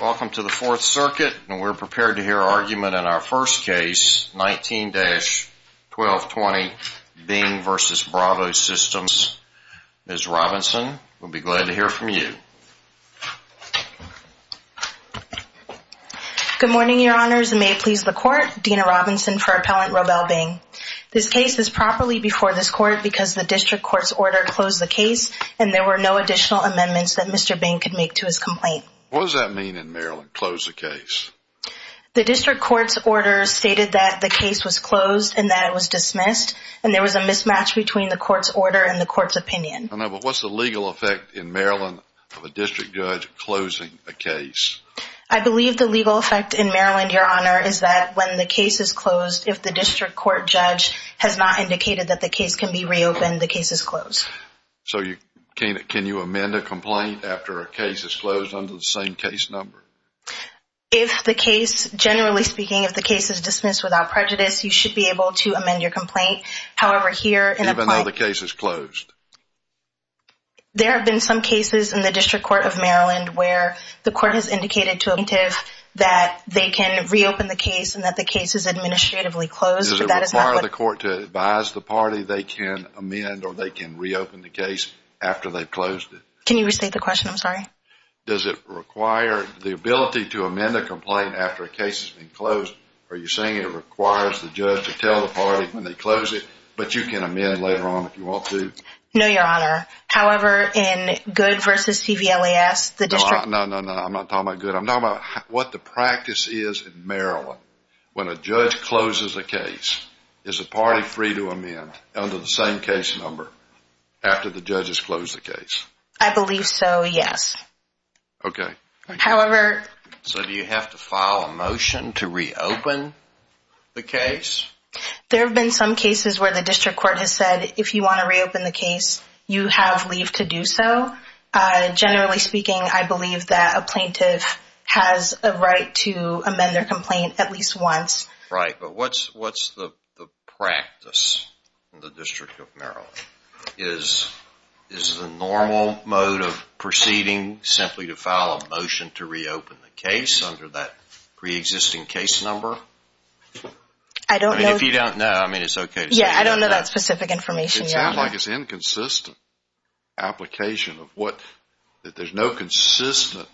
Welcome to the Fourth Circuit, and we're prepared to hear argument in our first case, 19-1220 Bing v. Brivo Systems. Ms. Robinson, we'll be glad to hear from you. Good morning, Your Honors, and may it please the Court, Dena Robinson for Appellant Robel Bing. This case is properly before this Court because the District Court's order closed the case and there were no additional amendments that Mr. Bing could make to his complaint. What does that mean in Maryland, close the case? The District Court's order stated that the case was closed and that it was dismissed, and there was a mismatch between the Court's order and the Court's opinion. I know, but what's the legal effect in Maryland of a District Judge closing a case? I believe the legal effect in Maryland, Your Honor, is that when the case is closed, if the District Court Judge has not indicated that the case can be reopened, the case is closed. So can you amend a complaint after a case is closed under the same case number? If the case, generally speaking, if the case is dismissed without prejudice, you should be able to amend your complaint. However, here in Appellant… Even though the case is closed? There have been some cases in the District Court of Maryland where the Court has indicated to a plaintiff Does it require the Court to advise the party they can amend or they can reopen the case after they've closed it? Can you restate the question? I'm sorry. Does it require the ability to amend a complaint after a case has been closed, or are you saying it requires the judge to tell the party when they close it, but you can amend later on if you want to? No, Your Honor. However, in Goode v. CVLAS, the District… No, no, no. I'm not talking about Goode. I'm talking about what the practice is in Maryland when a judge closes a case. Is the party free to amend under the same case number after the judges close the case? I believe so, yes. Okay. However… So do you have to file a motion to reopen the case? There have been some cases where the District Court has said if you want to reopen the case, you have leave to do so. Generally speaking, I believe that a plaintiff has a right to amend their complaint at least once. Right, but what's the practice in the District of Maryland? Is the normal mode of proceeding simply to file a motion to reopen the case under that preexisting case number? I don't know… If you don't know, I mean, it's okay to say you don't know. It sounds like it's an inconsistent application of what… that there's no consistent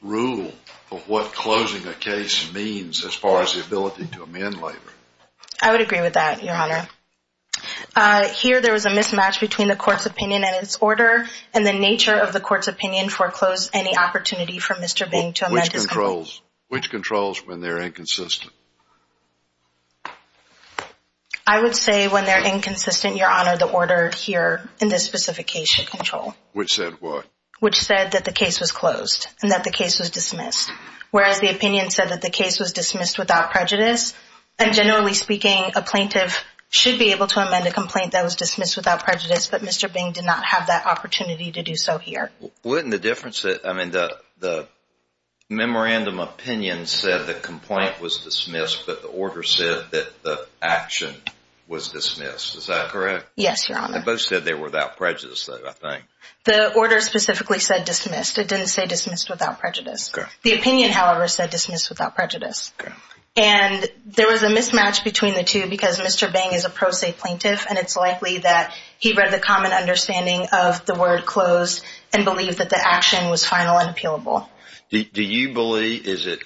rule of what closing a case means as far as the ability to amend later. I would agree with that, Your Honor. Here, there was a mismatch between the court's opinion and its order, and the nature of the court's opinion foreclosed any opportunity for Mr. Bing to amend his complaint. Which controls when they're inconsistent? I would say when they're inconsistent, Your Honor, the order here in this specific case should control. Which said what? Which said that the case was closed and that the case was dismissed. Whereas the opinion said that the case was dismissed without prejudice, and generally speaking, a plaintiff should be able to amend a complaint that was dismissed without prejudice, but Mr. Bing did not have that opportunity to do so here. Wouldn't the difference… I mean, the memorandum opinion said the complaint was dismissed, but the order said that the action was dismissed. Is that correct? Yes, Your Honor. They both said they were without prejudice, though, I think. The order specifically said dismissed. It didn't say dismissed without prejudice. The opinion, however, said dismissed without prejudice. And there was a mismatch between the two because Mr. Bing is a pro se plaintiff, and it's likely that he read the common understanding of the word closed and believed that the action was final and appealable. Do you believe, is it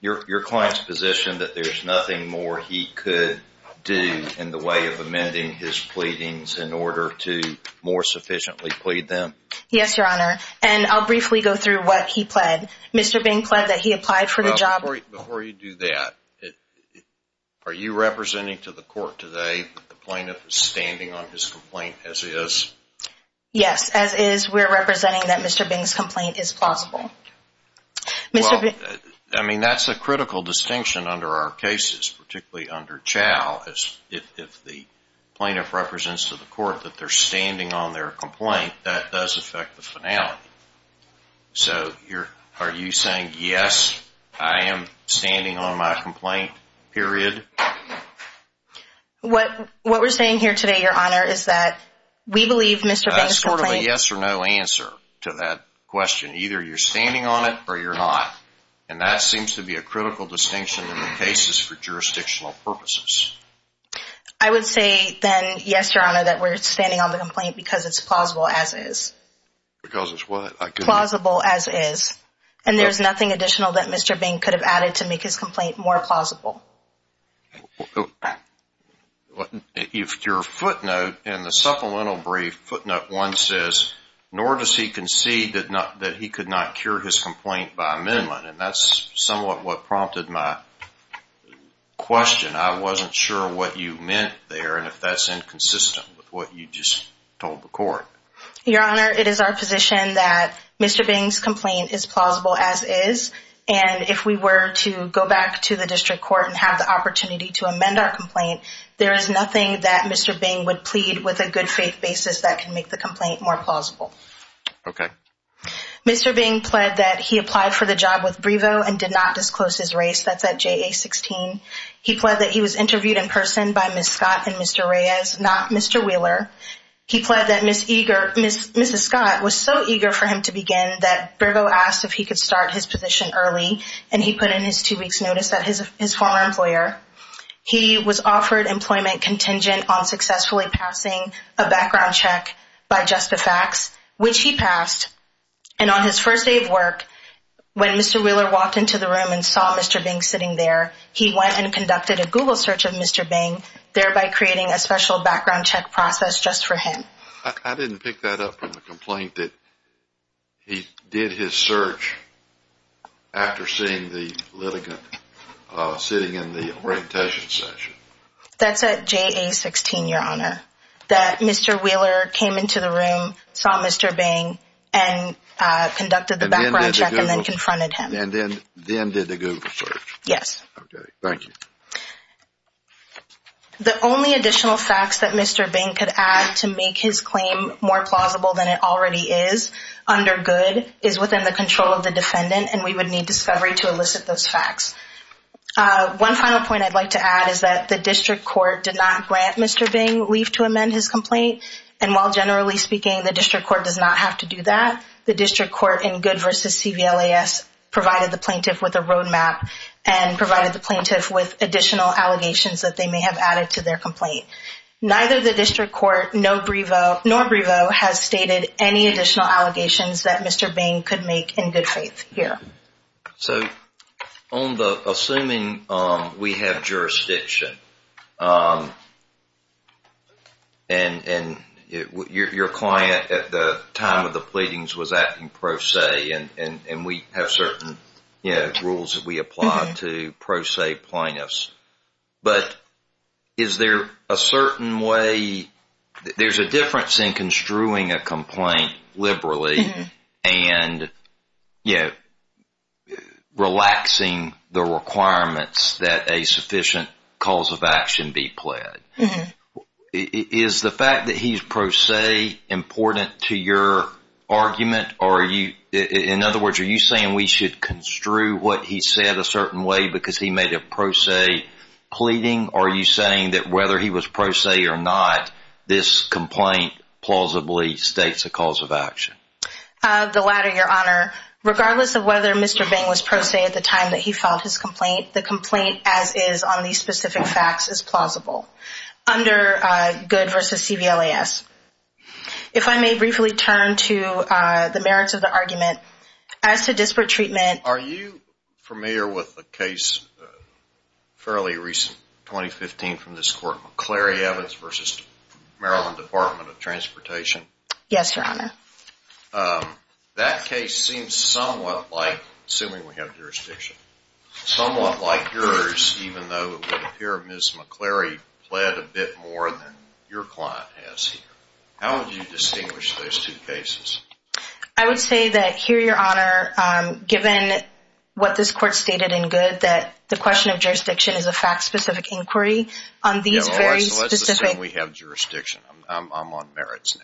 your client's position, that there's nothing more he could do in the way of amending his pleadings in order to more sufficiently plead them? Yes, Your Honor. And I'll briefly go through what he pled. Mr. Bing pled that he applied for the job… Before you do that, are you representing to the court today that the plaintiff is standing on his complaint as is? Yes. As is, we're representing that Mr. Bing's complaint is plausible. Well, I mean, that's a critical distinction under our cases, particularly under Chau. If the plaintiff represents to the court that they're standing on their complaint, that does affect the finality. So are you saying, yes, I am standing on my complaint, period? What we're saying here today, Your Honor, is that we believe Mr. Bing's complaint… That's sort of a yes or no answer to that question. Either you're standing on it or you're not. And that seems to be a critical distinction in the cases for jurisdictional purposes. I would say then, yes, Your Honor, that we're standing on the complaint because it's plausible as is. Because it's what? Plausible as is. And there's nothing additional that Mr. Bing could have added to make his complaint more plausible. If your footnote in the supplemental brief, footnote one says, nor does he concede that he could not cure his complaint by amendment, and that's somewhat what prompted my question. I wasn't sure what you meant there and if that's inconsistent with what you just told the court. Your Honor, it is our position that Mr. Bing's complaint is plausible as is. And if we were to go back to the district court and have the opportunity to amend our complaint, there is nothing that Mr. Bing would plead with a good faith basis that can make the complaint more plausible. Okay. Mr. Bing pled that he applied for the job with Brevo and did not disclose his race. That's at JA-16. He pled that he was interviewed in person by Ms. Scott and Mr. Reyes, not Mr. Wheeler. He pled that Ms. Scott was so eager for him to begin that Brevo asked if he could start his position early, and he put in his two weeks' notice at his former employer. He was offered employment contingent on successfully passing a background check by Justifax, which he passed. And on his first day of work, when Mr. Wheeler walked into the room and saw Mr. Bing sitting there, he went and conducted a Google search of Mr. Bing, thereby creating a special background check process just for him. I didn't pick that up from the complaint that he did his search after seeing the litigant sitting in the orientation session. That's at JA-16, Your Honor, that Mr. Wheeler came into the room, saw Mr. Bing, and conducted the background check and then confronted him. And then did the Google search? Yes. Okay. Thank you. The only additional facts that Mr. Bing could add to make his claim more plausible than it already is under Goode is within the control of the defendant, and we would need discovery to elicit those facts. One final point I'd like to add is that the district court did not grant Mr. Bing leave to amend his complaint, and while generally speaking the district court does not have to do that, the district court in Goode v. CVLAS provided the plaintiff with a roadmap and provided the plaintiff with additional allegations that they may have added to their complaint. Neither the district court, nor Brevo, has stated any additional allegations that Mr. Bing could make in good faith here. So, assuming we have jurisdiction, and your client at the time of the pleadings was acting pro se, and we have certain rules that we apply to pro se plaintiffs, but is there a certain way, there's a difference in construing a complaint liberally and relaxing the requirements that a sufficient cause of action be pledged. Is the fact that he's pro se important to your argument? In other words, are you saying we should construe what he said a certain way because he made a pro se pleading, or are you saying that whether he was pro se or not, this complaint plausibly states a cause of action? The latter, Your Honor. Regardless of whether Mr. Bing was pro se at the time that he filed his complaint, the complaint as is on these specific facts is plausible. Under Good v. CVLAS. If I may briefly turn to the merits of the argument. As to disparate treatment... Are you familiar with the case, fairly recent, 2015 from this court, McCleary-Evans v. Maryland Department of Transportation? Yes, Your Honor. That case seems somewhat like, assuming we have jurisdiction, somewhat like yours, even though it would appear Ms. McCleary pled a bit more than your client has here. How would you distinguish those two cases? I would say that here, Your Honor, given what this court stated in Good, that the question of jurisdiction is a fact-specific inquiry on these very specific... Let's assume we have jurisdiction. I'm on merits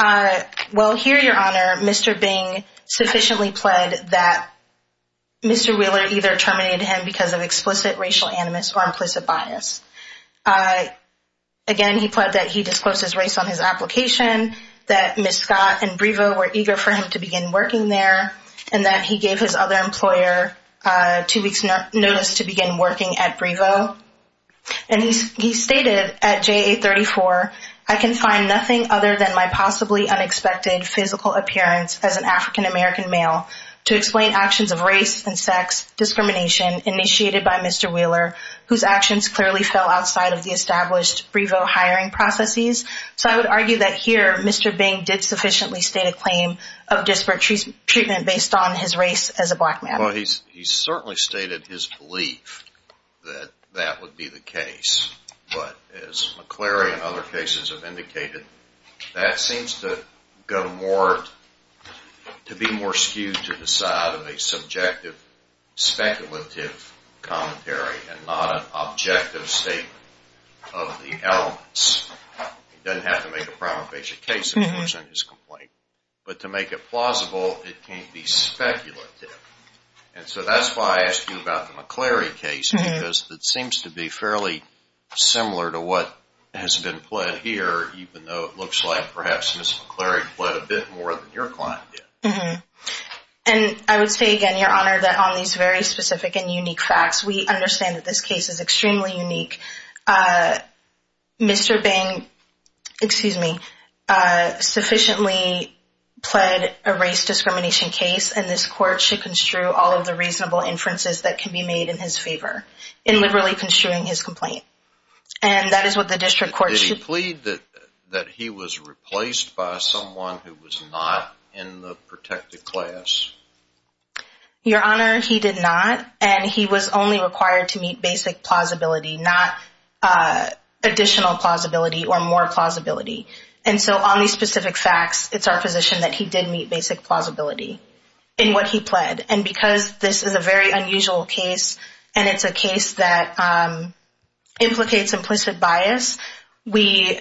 now. Well, here, Your Honor, Mr. Bing sufficiently pled that Mr. Wheeler either terminated him because of explicit racial animus or implicit bias. Again, he pled that he disclosed his race on his application, that Ms. Scott and Brevo were eager for him to begin working there, and that he gave his other employer two weeks' notice to begin working at Brevo. And he stated at JA-34, I can find nothing other than my possibly unexpected physical appearance as an African-American male to explain actions of race and sex discrimination initiated by Mr. Wheeler, whose actions clearly fell outside of the established Brevo hiring processes. So I would argue that here, Mr. Bing did sufficiently state a claim of disparate treatment based on his race as a black man. Well, he certainly stated his belief that that would be the case. But as McCleary and other cases have indicated, that seems to be more skewed to the side of a subjective, speculative commentary and not an objective statement of the elements. He doesn't have to make a prima facie case in order to present his complaint. But to make it plausible, it can't be speculative. And so that's why I asked you about the McCleary case, because it seems to be fairly similar to what has been pled here, even though it looks like perhaps Ms. McCleary pled a bit more than your client did. And I would say again, Your Honor, that on these very specific and unique facts, we understand that this case is extremely unique. Mr. Bing sufficiently pled a race discrimination case, and this court should construe all of the reasonable inferences that can be made in his favor in liberally construing his complaint. And that is what the district court should- Did he plead that he was replaced by someone who was not in the protected class? Your Honor, he did not. And he was only required to meet basic plausibility, not additional plausibility or more plausibility. And so on these specific facts, it's our position that he did meet basic plausibility in what he pled. And because this is a very unusual case, and it's a case that implicates implicit bias, we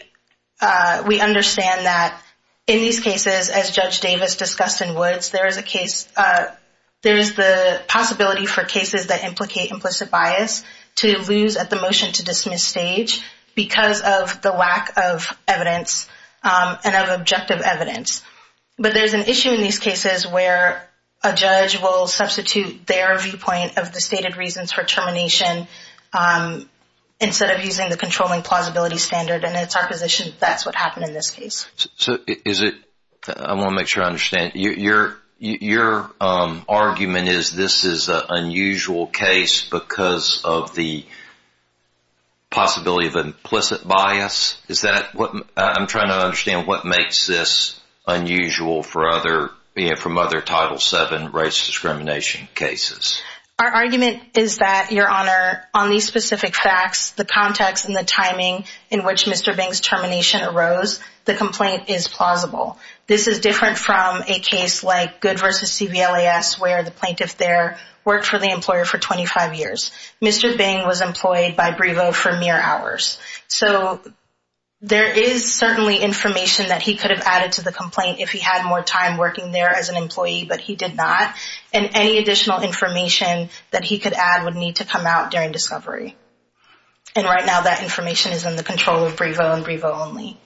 understand that in these cases, as Judge Davis discussed in Woods, there is the possibility for cases that implicate implicit bias to lose at the motion-to-dismiss stage because of the lack of evidence and of objective evidence. But there's an issue in these cases where a judge will substitute their viewpoint of the stated reasons for termination instead of using the controlling plausibility standard, and it's our position that that's what happened in this case. So is it- I want to make sure I understand. Your argument is this is an unusual case because of the possibility of implicit bias? Is that what- I'm trying to understand what makes this unusual for other- from other Title VII race discrimination cases. Our argument is that, Your Honor, on these specific facts, the context and the timing in which Mr. Bing's termination arose, the complaint is plausible. This is different from a case like Goode v. CVLAS where the plaintiff there worked for the employer for 25 years. Mr. Bing was employed by Brevo for mere hours. So there is certainly information that he could have added to the complaint if he had more time working there as an employee, but he did not. And any additional information that he could add would need to come out during discovery. And right now that information is in the control of Brevo and Brevo only.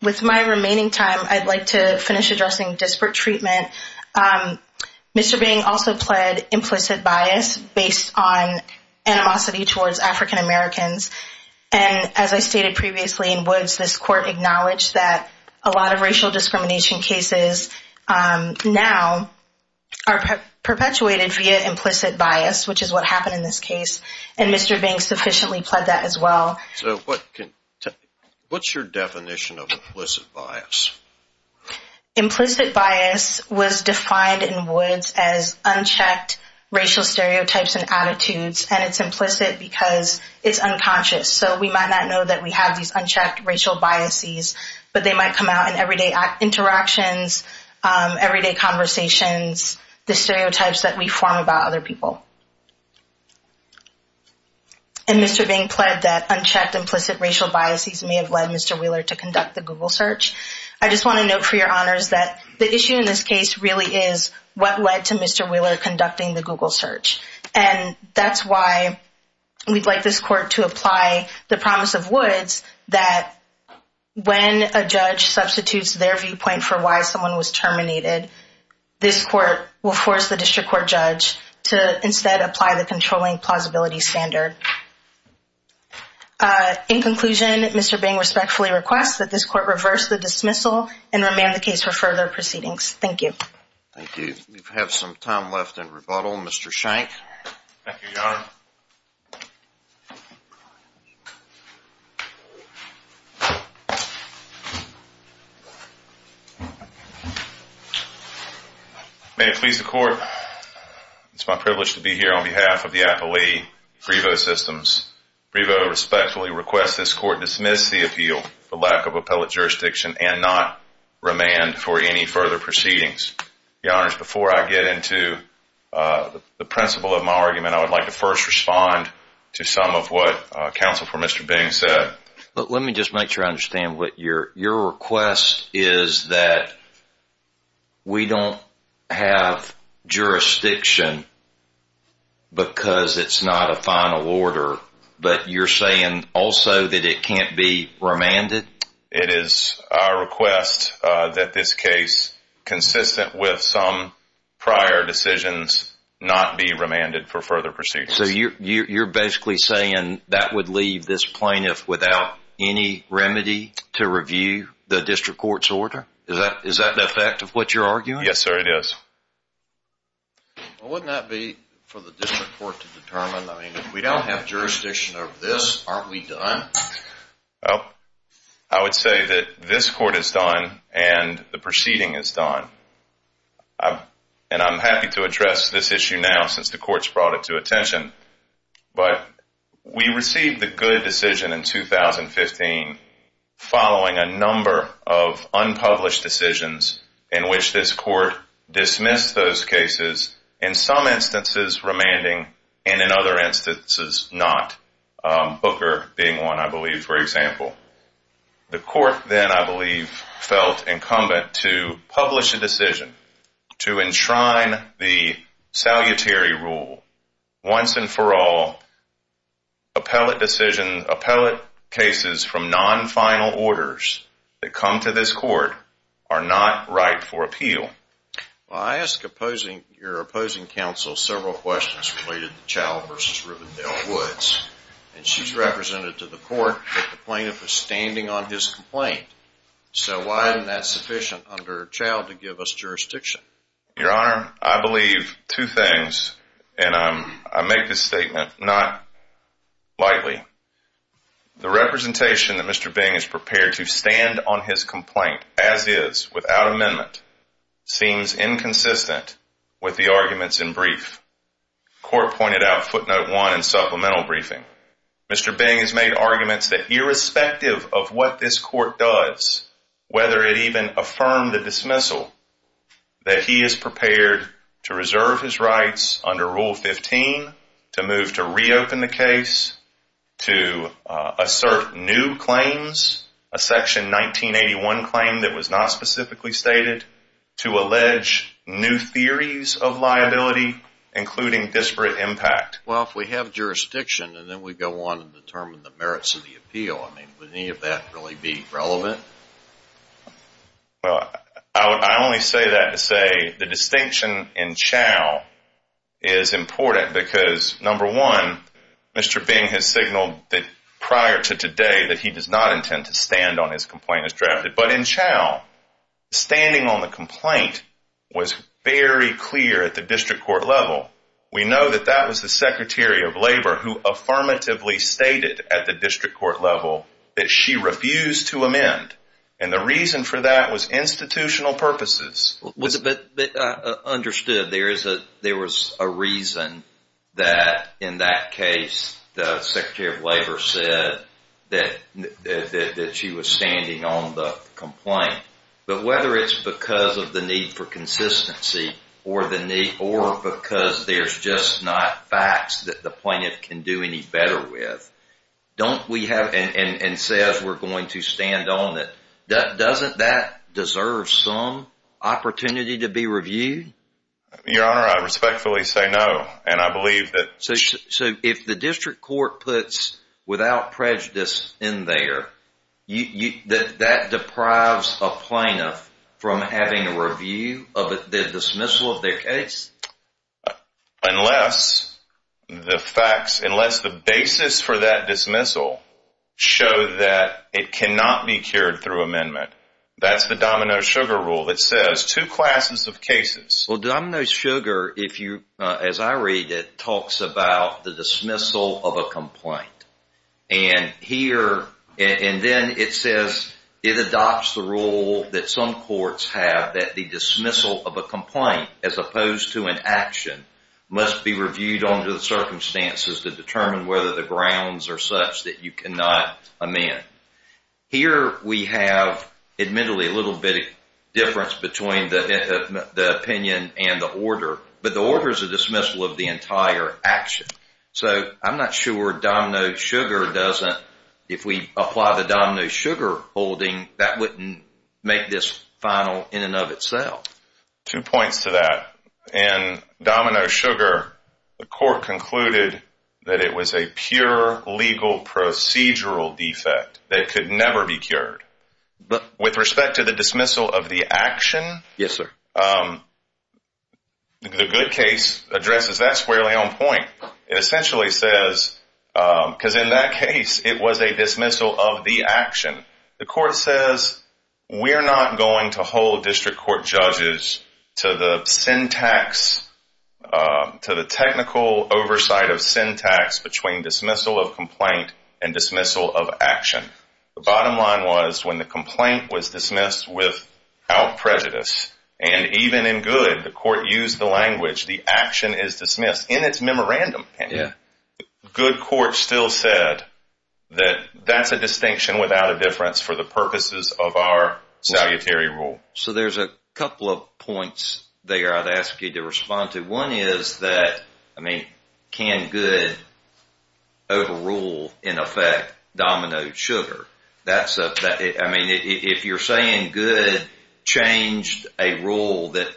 With my remaining time, I'd like to finish addressing disparate treatment. Mr. Bing also pled implicit bias based on animosity towards African Americans. And as I stated previously in Woods, this court acknowledged that a lot of racial discrimination cases now are perpetuated via implicit bias, which is what happened in this case, and Mr. Bing sufficiently pled that as well. So what's your definition of implicit bias? Implicit bias was defined in Woods as unchecked racial stereotypes and attitudes, and it's implicit because it's unconscious. So we might not know that we have these unchecked racial biases, but they might come out in everyday interactions, everyday conversations, the stereotypes that we form about other people. And Mr. Bing pled that unchecked implicit racial biases may have led Mr. Wheeler to conduct the Google search. I just want to note for your honors that the issue in this case really is what led to Mr. Wheeler conducting the Google search, and that's why we'd like this court to apply the promise of Woods that when a judge substitutes their viewpoint for why someone was terminated, this court will force the district court judge to instead apply the controlling plausibility standard. In conclusion, Mr. Bing respectfully requests that this court reverse the dismissal and remand the case for further proceedings. Thank you. Thank you. We have some time left in rebuttal. Mr. Shank. Thank you, Your Honor. May it please the court, it's my privilege to be here on behalf of the Appellee, Frivo Systems. Frivo respectfully requests this court dismiss the appeal for lack of appellate jurisdiction and not remand for any further proceedings. Your Honors, before I get into the principle of my argument, I would like to first respond to some of what counsel for Mr. Bing said. Let me just make sure I understand. Your request is that we don't have jurisdiction because it's not a final order, but you're saying also that it can't be remanded? It is our request that this case, consistent with some prior decisions, not be remanded for further proceedings. So you're basically saying that would leave this plaintiff without any remedy to review the district court's order? Is that the effect of what you're arguing? Yes, sir, it is. Well, wouldn't that be for the district court to determine? I mean, if we don't have jurisdiction over this, aren't we done? Well, I would say that this court is done and the proceeding is done. And I'm happy to address this issue now since the court's brought it to attention. But we received the good decision in 2015 following a number of unpublished decisions in which this court dismissed those cases, in some instances remanding and in other instances not. Booker being one, I believe, for example. The court then, I believe, felt incumbent to publish a decision to enshrine the salutary rule. Once and for all, appellate decisions, appellate cases from non-final orders that come to this court are not right for appeal. Well, I ask your opposing counsel several questions related to Chow v. Rivendell Woods. And she's represented to the court that the plaintiff is standing on his complaint. So why isn't that sufficient under Chow to give us jurisdiction? Your Honor, I believe two things, and I make this statement not lightly. The representation that Mr. Bing is prepared to stand on his complaint, as is, without amendment, seems inconsistent with the arguments in brief. The court pointed out footnote one in supplemental briefing. Mr. Bing has made arguments that irrespective of what this court does, whether it even affirmed the dismissal, that he is prepared to reserve his rights under Rule 15, to move to reopen the case, to assert new claims, a Section 1981 claim that was not specifically stated, to allege new theories of liability, including disparate impact. Well, if we have jurisdiction and then we go on and determine the merits of the appeal, I mean, would any of that really be relevant? Well, I only say that to say the distinction in Chow is important because, number one, Mr. Bing has signaled prior to today that he does not intend to stand on his complaint as drafted. But in Chow, standing on the complaint was very clear at the district court level. We know that that was the Secretary of Labor who affirmatively stated at the district court level that she refused to amend, and the reason for that was institutional purposes. Understood. There was a reason that, in that case, the Secretary of Labor said that she was standing on the complaint. But whether it's because of the need for consistency, or because there's just not facts that the plaintiff can do any better with, and says we're going to stand on it, doesn't that deserve some opportunity to be reviewed? Your Honor, I respectfully say no, and I believe that... So if the district court puts without prejudice in there, that deprives a plaintiff from having a review of the dismissal of their case? Unless the facts, unless the basis for that dismissal show that it cannot be cured through amendment. That's the Domino Sugar Rule that says two classes of cases... Well, Domino Sugar, as I read it, talks about the dismissal of a complaint. And then it says it adopts the rule that some courts have that the dismissal of a complaint, as opposed to an action, must be reviewed under the circumstances to determine whether the grounds are such that you cannot amend. Here we have, admittedly, a little bit of difference between the opinion and the order. But the order is a dismissal of the entire action. So I'm not sure Domino Sugar doesn't, if we apply the Domino Sugar holding, that wouldn't make this final in and of itself. Two points to that. In Domino Sugar, the court concluded that it was a pure legal procedural defect that could never be cured. With respect to the dismissal of the action, the good case addresses that squarely on point. It essentially says, because in that case it was a dismissal of the action, the court says we're not going to hold district court judges to the technical oversight of syntax between dismissal of complaint and dismissal of action. The bottom line was when the complaint was dismissed without prejudice, and even in good, the court used the language, the action is dismissed in its memorandum opinion, good court still said that that's a distinction without a difference for the purposes of our salutary rule. So there's a couple of points there I'd ask you to respond to. One is that, I mean, can good overrule, in effect, Domino Sugar? I mean, if you're saying good changed a rule that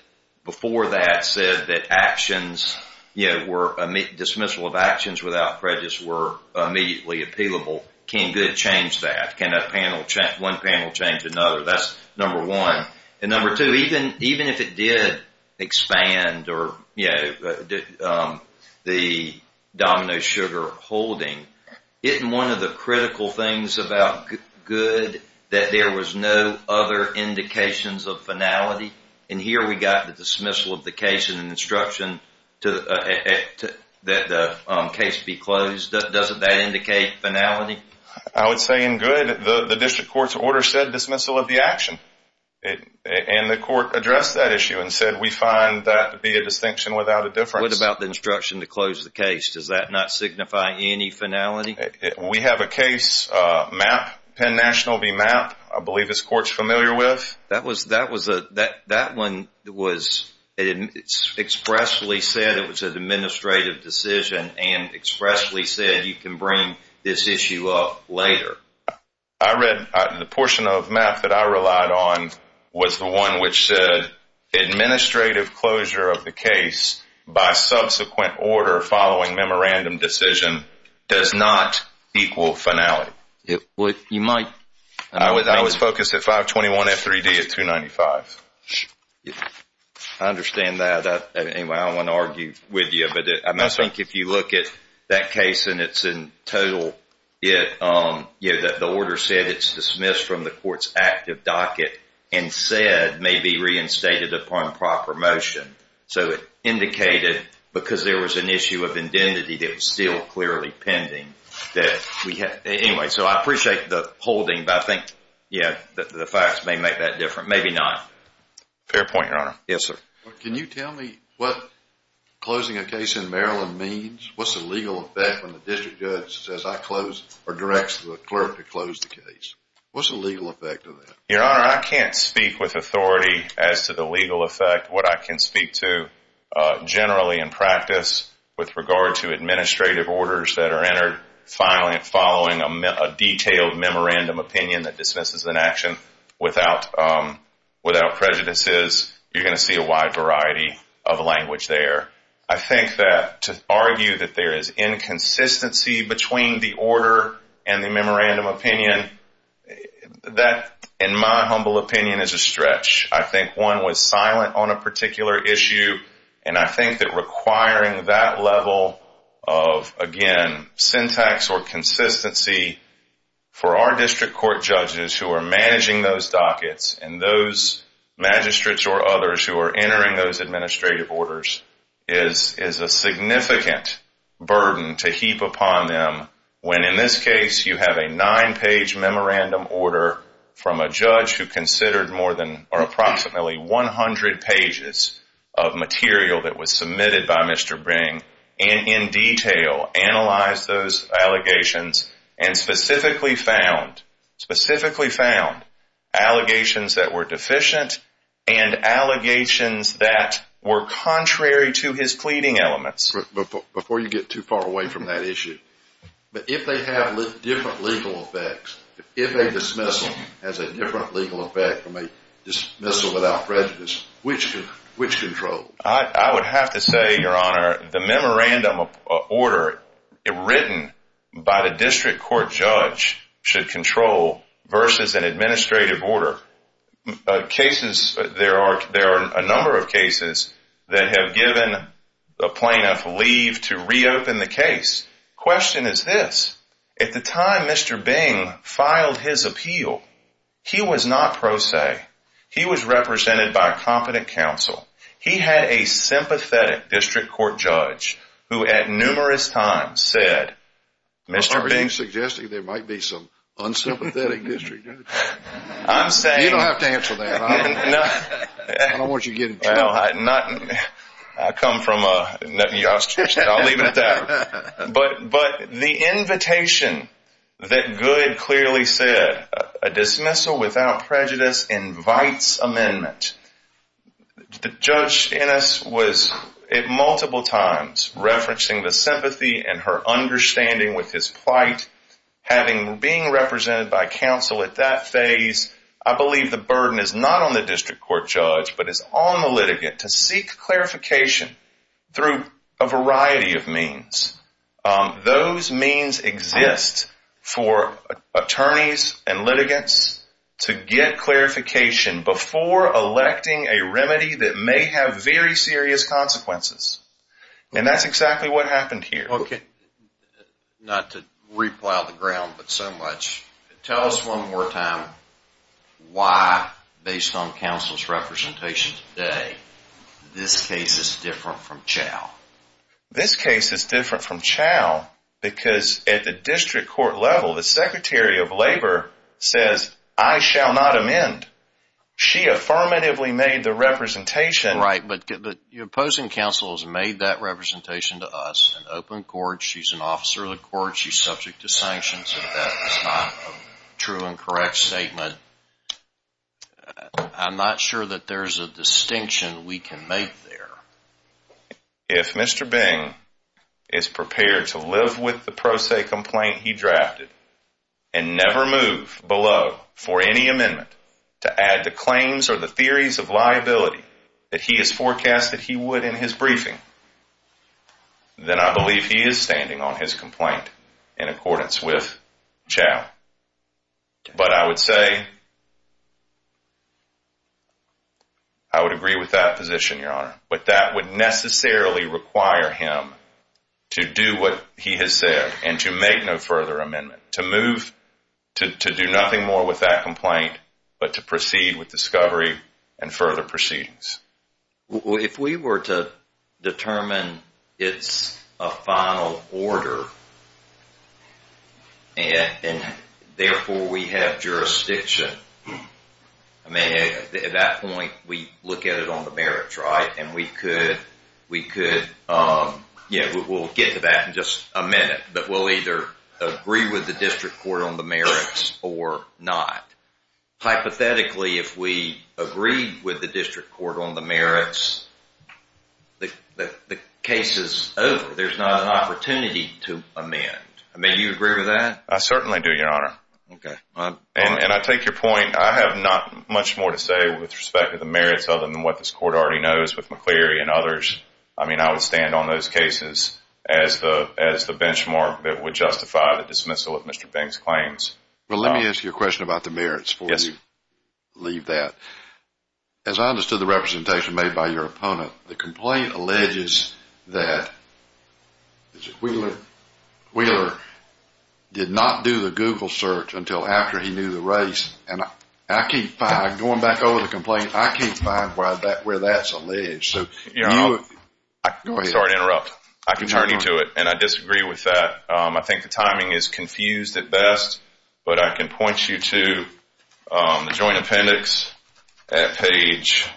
before that said that actions, dismissal of actions without prejudice were immediately appealable, can good change that? Can one panel change another? That's number one. And number two, even if it did expand the Domino Sugar holding, isn't one of the critical things about good that there was no other indications of finality? And here we got the dismissal of the case and an instruction that the case be closed. Doesn't that indicate finality? I would say in good, the district court's order said dismissal of the action. And the court addressed that issue and said, we find that to be a distinction without a difference. What about the instruction to close the case? Does that not signify any finality? We have a case, MAP, Penn National v. MAP, I believe this court's familiar with. That one expressly said it was an administrative decision and expressly said you can bring this issue up later. I read the portion of MAP that I relied on was the one which said administrative closure of the case by subsequent order following memorandum decision does not equal finality. You might. I was focused at 521F3D at 295. I understand that. Anyway, I don't want to argue with you, but I think if you look at that case and it's in total, the order said it's dismissed from the court's active docket and said may be reinstated upon proper motion. So it indicated because there was an issue of indemnity that was still clearly pending. Anyway, so I appreciate the holding, but I think, yeah, the facts may make that different. Maybe not. Fair point, Your Honor. Yes, sir. Can you tell me what closing a case in Maryland means? What's the legal effect when the district judge says I close or directs the clerk to close the case? What's the legal effect of that? Your Honor, I can't speak with authority as to the legal effect. What I can speak to generally in practice with regard to administrative orders that are entered following a detailed memorandum opinion that dismisses an action without prejudices, you're going to see a wide variety of language there. I think that to argue that there is inconsistency between the order and the memorandum opinion, that, in my humble opinion, is a stretch. I think one was silent on a particular issue, and I think that requiring that level of, again, syntax or consistency for our district court judges who are managing those dockets and those magistrates or others who are entering those administrative orders is a significant burden to heap upon them when, in this case, you have a nine-page memorandum order from a judge who considered more than or approximately 100 pages of material that was submitted by Mr. Bring and in detail analyzed those allegations and specifically found allegations that were deficient and allegations that were contrary to his pleading elements. Before you get too far away from that issue, if they have different legal effects, if a dismissal has a different legal effect from a dismissal without prejudice, which controls? I would have to say, Your Honor, the memorandum order written by the district court judge should control versus an administrative order. There are a number of cases that have given the plaintiff leave to reopen the case. The question is this. At the time Mr. Bing filed his appeal, he was not pro se. He was represented by a competent counsel. He had a sympathetic district court judge who, at numerous times, said, Mr. Bing. Are you suggesting there might be some unsympathetic district judge? You don't have to answer that. I don't want you to get in trouble. No, I come from a nutty ostrich. I'll leave it at that. But the invitation that Goode clearly said, a dismissal without prejudice invites amendment. Judge Ennis was at multiple times referencing the sympathy and her understanding with his plight, having being represented by counsel at that phase. I believe the burden is not on the district court judge, but it's on the litigant to seek clarification through a variety of means. Those means exist for attorneys and litigants to get clarification before electing a remedy that may have very serious consequences. And that's exactly what happened here. Not to re-plow the ground, but so much. Tell us one more time why, based on counsel's representation today, this case is different from Chau. This case is different from Chau because at the district court level, the Secretary of Labor says, I shall not amend. She affirmatively made the representation. Right, but the opposing counsel has made that representation to us. She's an open court. She's an officer of the court. She's subject to sanctions. That's not a true and correct statement. I'm not sure that there's a distinction we can make there. If Mr. Bing is prepared to live with the pro se complaint he drafted and never move below for any amendment to add to claims or the theories of liability that he has forecasted he would in his briefing, then I believe he is standing on his complaint in accordance with Chau. But I would say I would agree with that position, Your Honor. But that would necessarily require him to do what he has said and to make no further amendment, to move to do nothing more with that complaint but to proceed with discovery and further proceedings. Well, if we were to determine it's a final order and therefore we have jurisdiction, at that point we look at it on the merits, right? And we could get to that in just a minute. But we'll either agree with the district court on the merits or not. Hypothetically, if we agree with the district court on the merits, the case is over. There's not an opportunity to amend. May you agree with that? I certainly do, Your Honor. Okay. And I take your point. I have not much more to say with respect to the merits other than what this court already knows with McCleary and others. I mean, I would stand on those cases as the benchmark that would justify the dismissal of Mr. Bing's claims. Well, let me ask you a question about the merits before you leave that. As I understood the representation made by your opponent, the complaint alleges that Wheeler did not do the Google search until after he knew the race. And going back over the complaint, I can't find where that's alleged. I'm sorry to interrupt. I can turn you to it. And I disagree with that. I think the timing is confused at best. But I can point you to the joint appendix at page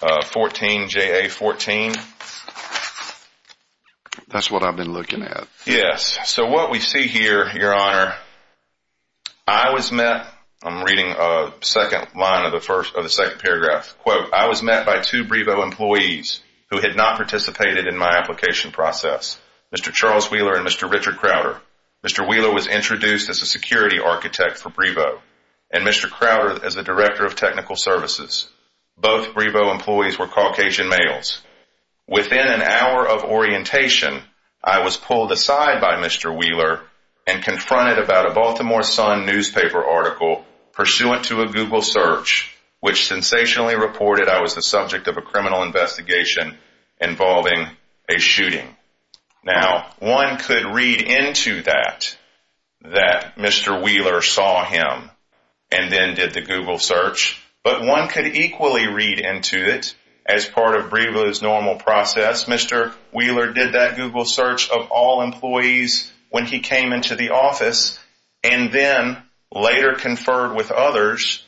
14, JA14. That's what I've been looking at. Yes. So what we see here, Your Honor, I was met. I'm reading a second line of the second paragraph. Quote, I was met by two Brevo employees who had not participated in my application process, Mr. Charles Wheeler and Mr. Richard Crowder. Mr. Wheeler was introduced as a security architect for Brevo and Mr. Crowder as the director of technical services. Both Brevo employees were Caucasian males. Within an hour of orientation, I was pulled aside by Mr. Wheeler and confronted about a Baltimore Sun newspaper article pursuant to a Google search which sensationally reported I was the subject of a criminal investigation involving a shooting. Now, one could read into that that Mr. Wheeler saw him and then did the Google search. But one could equally read into it as part of Brevo's normal process. Mr. Wheeler did that Google search of all employees when he came into the office and then later conferred with others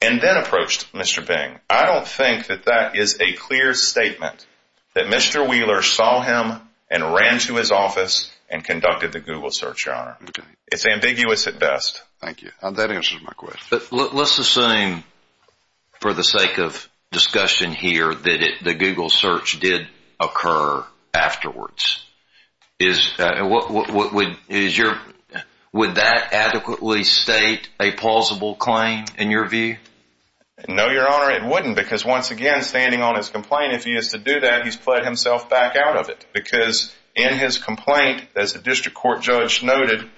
and then approached Mr. Bing. I don't think that that is a clear statement that Mr. Wheeler saw him and ran to his office and conducted the Google search, Your Honor. It's ambiguous at best. Thank you. That answers my question. Let's assume for the sake of discussion here that the Google search did occur afterwards. Would that adequately state a plausible claim in your view? No, Your Honor, it wouldn't because once again, standing on his complaint, if he is to do that, he's played himself back out of it because in his complaint, as the district court judge noted,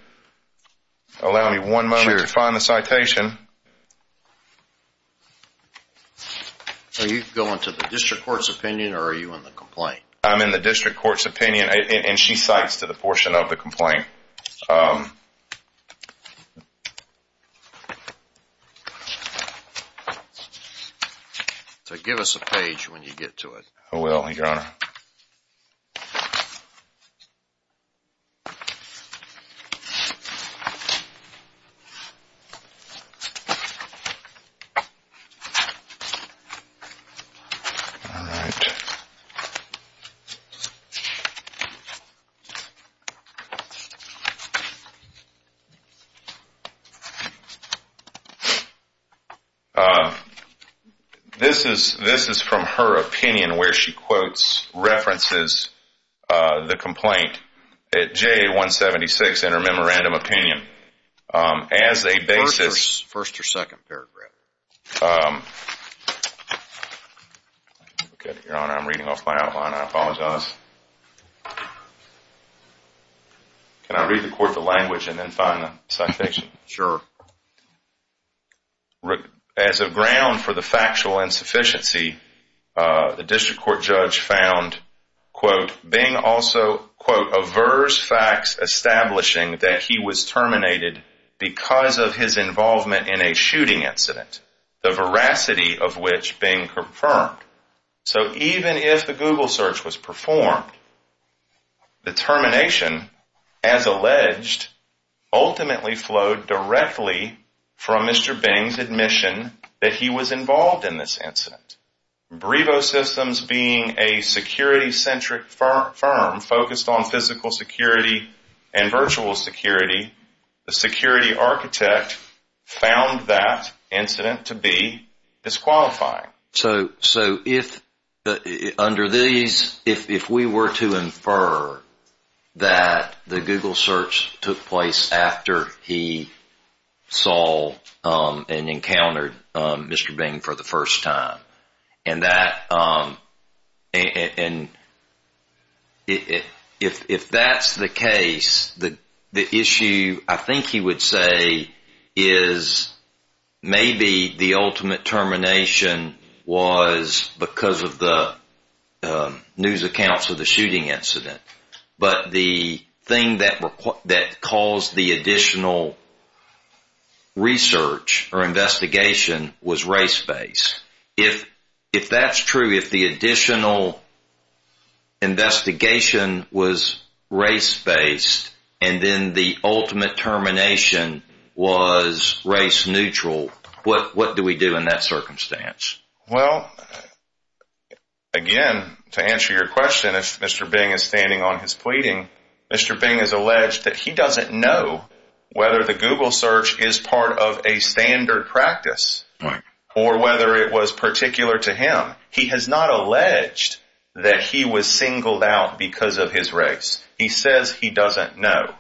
allow me one moment to find the citation. Are you going to the district court's opinion or are you in the complaint? I'm in the district court's opinion, and she cites to the portion of the complaint. So give us a page when you get to it. This is from her opinion where she quotes, references the complaint at J176 in her memorandum opinion as a basis. First or second paragraph. Your Honor, I'm reading off my outline. I apologize. Can I read the court the language and then find the citation? Sure. As a ground for the factual insufficiency, the district court judge found, quote, being also, quote, averse facts establishing that he was terminated because of his involvement in a shooting incident, the veracity of which being confirmed. So even if the Google search was performed, the termination, as alleged, ultimately flowed directly from Mr. Bing's admission that he was involved in this incident. Brevo Systems being a security-centric firm focused on physical security and virtual security, the security architect found that incident to be disqualifying. So under these, if we were to infer that the Google search took place after he saw and encountered Mr. Bing for the first time, and if that's the case, the issue I think he would say is maybe the ultimate termination was because of the news accounts of the shooting incident, but the thing that caused the additional research or investigation was race-based. If that's true, if the additional investigation was race-based and then the ultimate termination was race-neutral, what do we do in that circumstance? Well, again, to answer your question, if Mr. Bing is standing on his pleading, Mr. Bing has alleged that he doesn't know whether the Google search is part of a to him. He has not alleged that he was singled out because of his race. He says he doesn't know.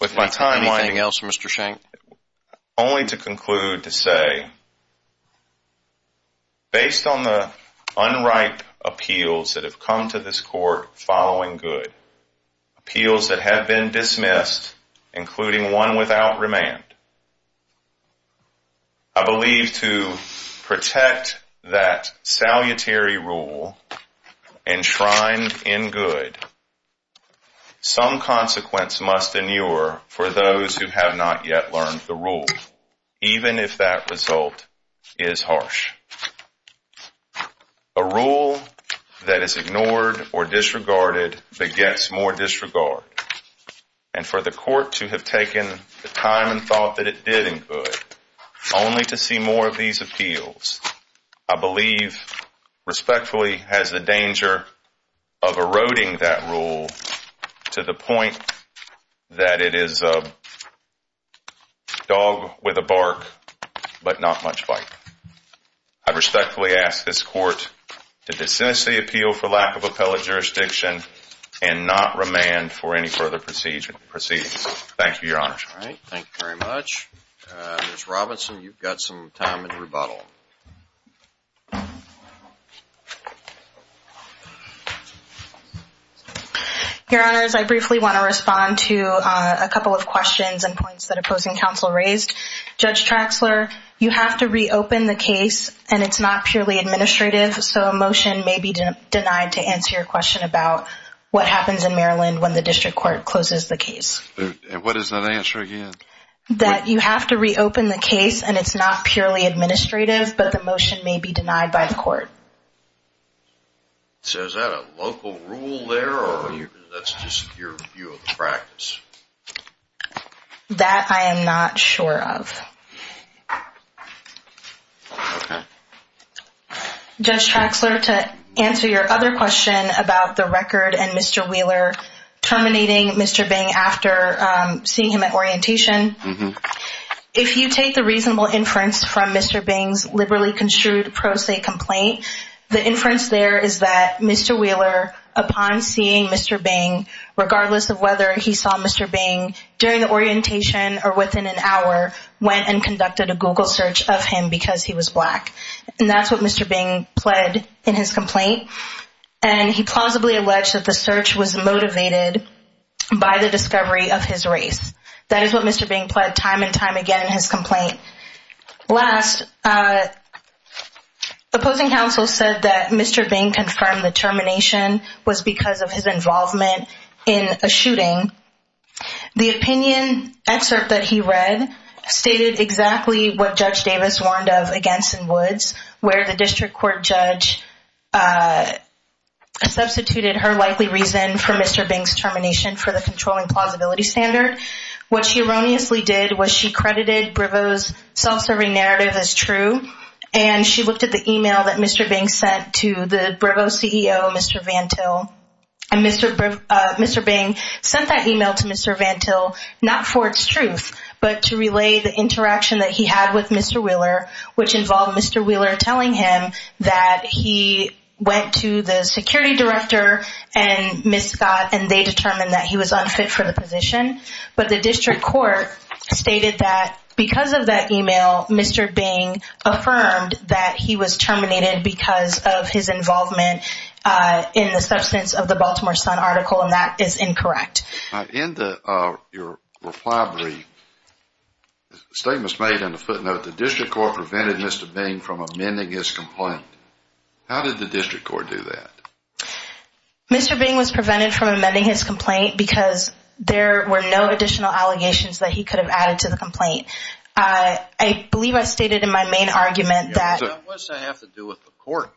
With my time winding else, Mr. Shank? Only to conclude to say, based on the unripe appeals that have come to this court following good, appeals that have been dismissed, including one without remand, I believe to protect that salutary rule enshrined in good, some consequence must inure for those who have not yet learned the rule, even if that result is harsh. A rule that is ignored or disregarded begets more disregard, and for the court to have taken the time and thought that it did include only to see more of these appeals, I believe respectfully has the danger of eroding that rule to the point that it is a dog with a bark but not much bite. I respectfully ask this court to dismiss the appeal for lack of appellate Thank you very much. Ms. Robinson, you've got some time in rebuttal. Your Honors, I briefly want to respond to a couple of questions and points that opposing counsel raised. Judge Traxler, you have to reopen the case, and it's not purely administrative, so a motion may be denied to answer your question about what happens in Maryland when the district court closes the case. And what is that answer again? That you have to reopen the case, and it's not purely administrative, but the motion may be denied by the court. So is that a local rule there, or that's just your view of practice? That I am not sure of. Okay. Judge Traxler, to answer your other question about the record and Mr. Wheeler terminating Mr. Bing after seeing him at orientation, if you take the reasonable inference from Mr. Bing's liberally construed pro se complaint, the inference there is that Mr. Wheeler, upon seeing Mr. Bing, regardless of whether he saw Mr. Bing during the orientation or within an hour, went and conducted a Google search of him because he was black. And that's what Mr. Bing pled in his complaint, and he plausibly alleged that the search was motivated by the discovery of his race. That is what Mr. Bing pled time and time again in his complaint. Last, opposing counsel said that Mr. Bing confirmed the termination was because of his involvement in a shooting. The opinion excerpt that he read stated exactly what Judge Davis warned of against in Woods, where the district court judge substituted her likely reason for Mr. Bing's termination for the controlling plausibility standard. What she erroneously did was she credited Briveau's self-serving narrative as true, and she looked at the email that Mr. Bing sent to the Briveau CEO, Mr. Van Til, and Mr. Bing sent that email to Mr. Van Til not for its truth, but to relay the interaction that he had with Mr. Wheeler, which involved Mr. Wheeler telling him that he went to the security director and Ms. Scott, and they determined that he was unfit for the position. But the district court stated that because of that email, Mr. Bing affirmed that he was terminated because of his involvement in the substance of the Baltimore Sun article, and that is incorrect. In your reply brief, statements made in the footnote, the district court prevented Mr. Bing from amending his complaint. How did the district court do that? Mr. Bing was prevented from amending his complaint because there were no additional allegations that he could have added to the complaint. I believe I stated in my main argument that the court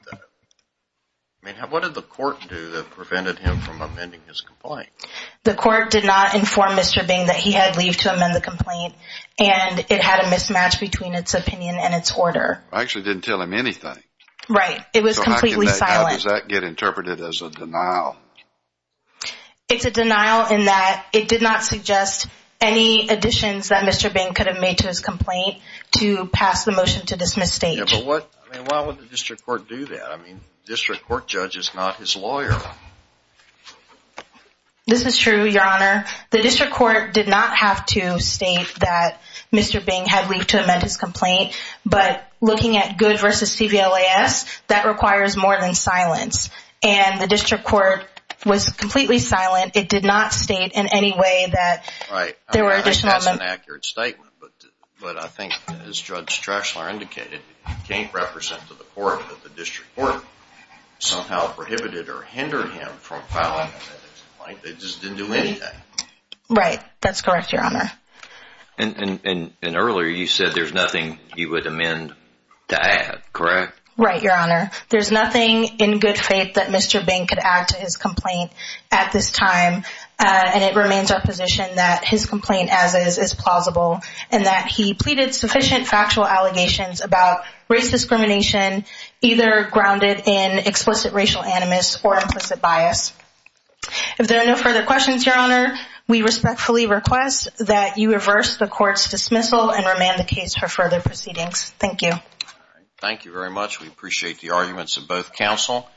did not inform Mr. Bing that he had leave to amend the complaint, and it had a mismatch between its opinion and its order. I actually didn't tell him anything. Right. It was completely silent. How does that get interpreted as a denial? It's a denial in that it did not suggest any additions that Mr. Bing made to his complaint to pass the motion to dismiss state. Yeah, but why would the district court do that? I mean, district court judge is not his lawyer. This is true, Your Honor. The district court did not have to state that Mr. Bing had leave to amend his complaint. But looking at good versus CVLAS, that requires more than silence. And the district court was completely silent. It did not state in any way that there were additional amendments. That's an accurate statement. But I think, as Judge Strachler indicated, it can't represent to the court that the district court somehow prohibited or hindered him from filing an amendment to the complaint. They just didn't do anything. Right. That's correct, Your Honor. And earlier you said there's nothing he would amend to add, correct? Right, Your Honor. There's nothing in good faith that Mr. Bing could add to his complaint at this time, and it remains our position that his complaint as is is plausible and that he pleaded sufficient factual allegations about race discrimination either grounded in explicit racial animus or implicit bias. If there are no further questions, Your Honor, we respectfully request that you reverse the court's dismissal and remand the case for further proceedings. Thank you. Thank you very much. We appreciate the arguments of both counsel.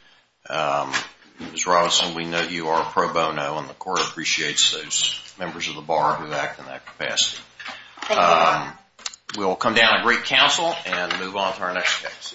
Ms. Robinson, we know you are a pro bono, and the court appreciates those members of the bar who act in that capacity. Thank you. We'll come down and break counsel and move on to our next case.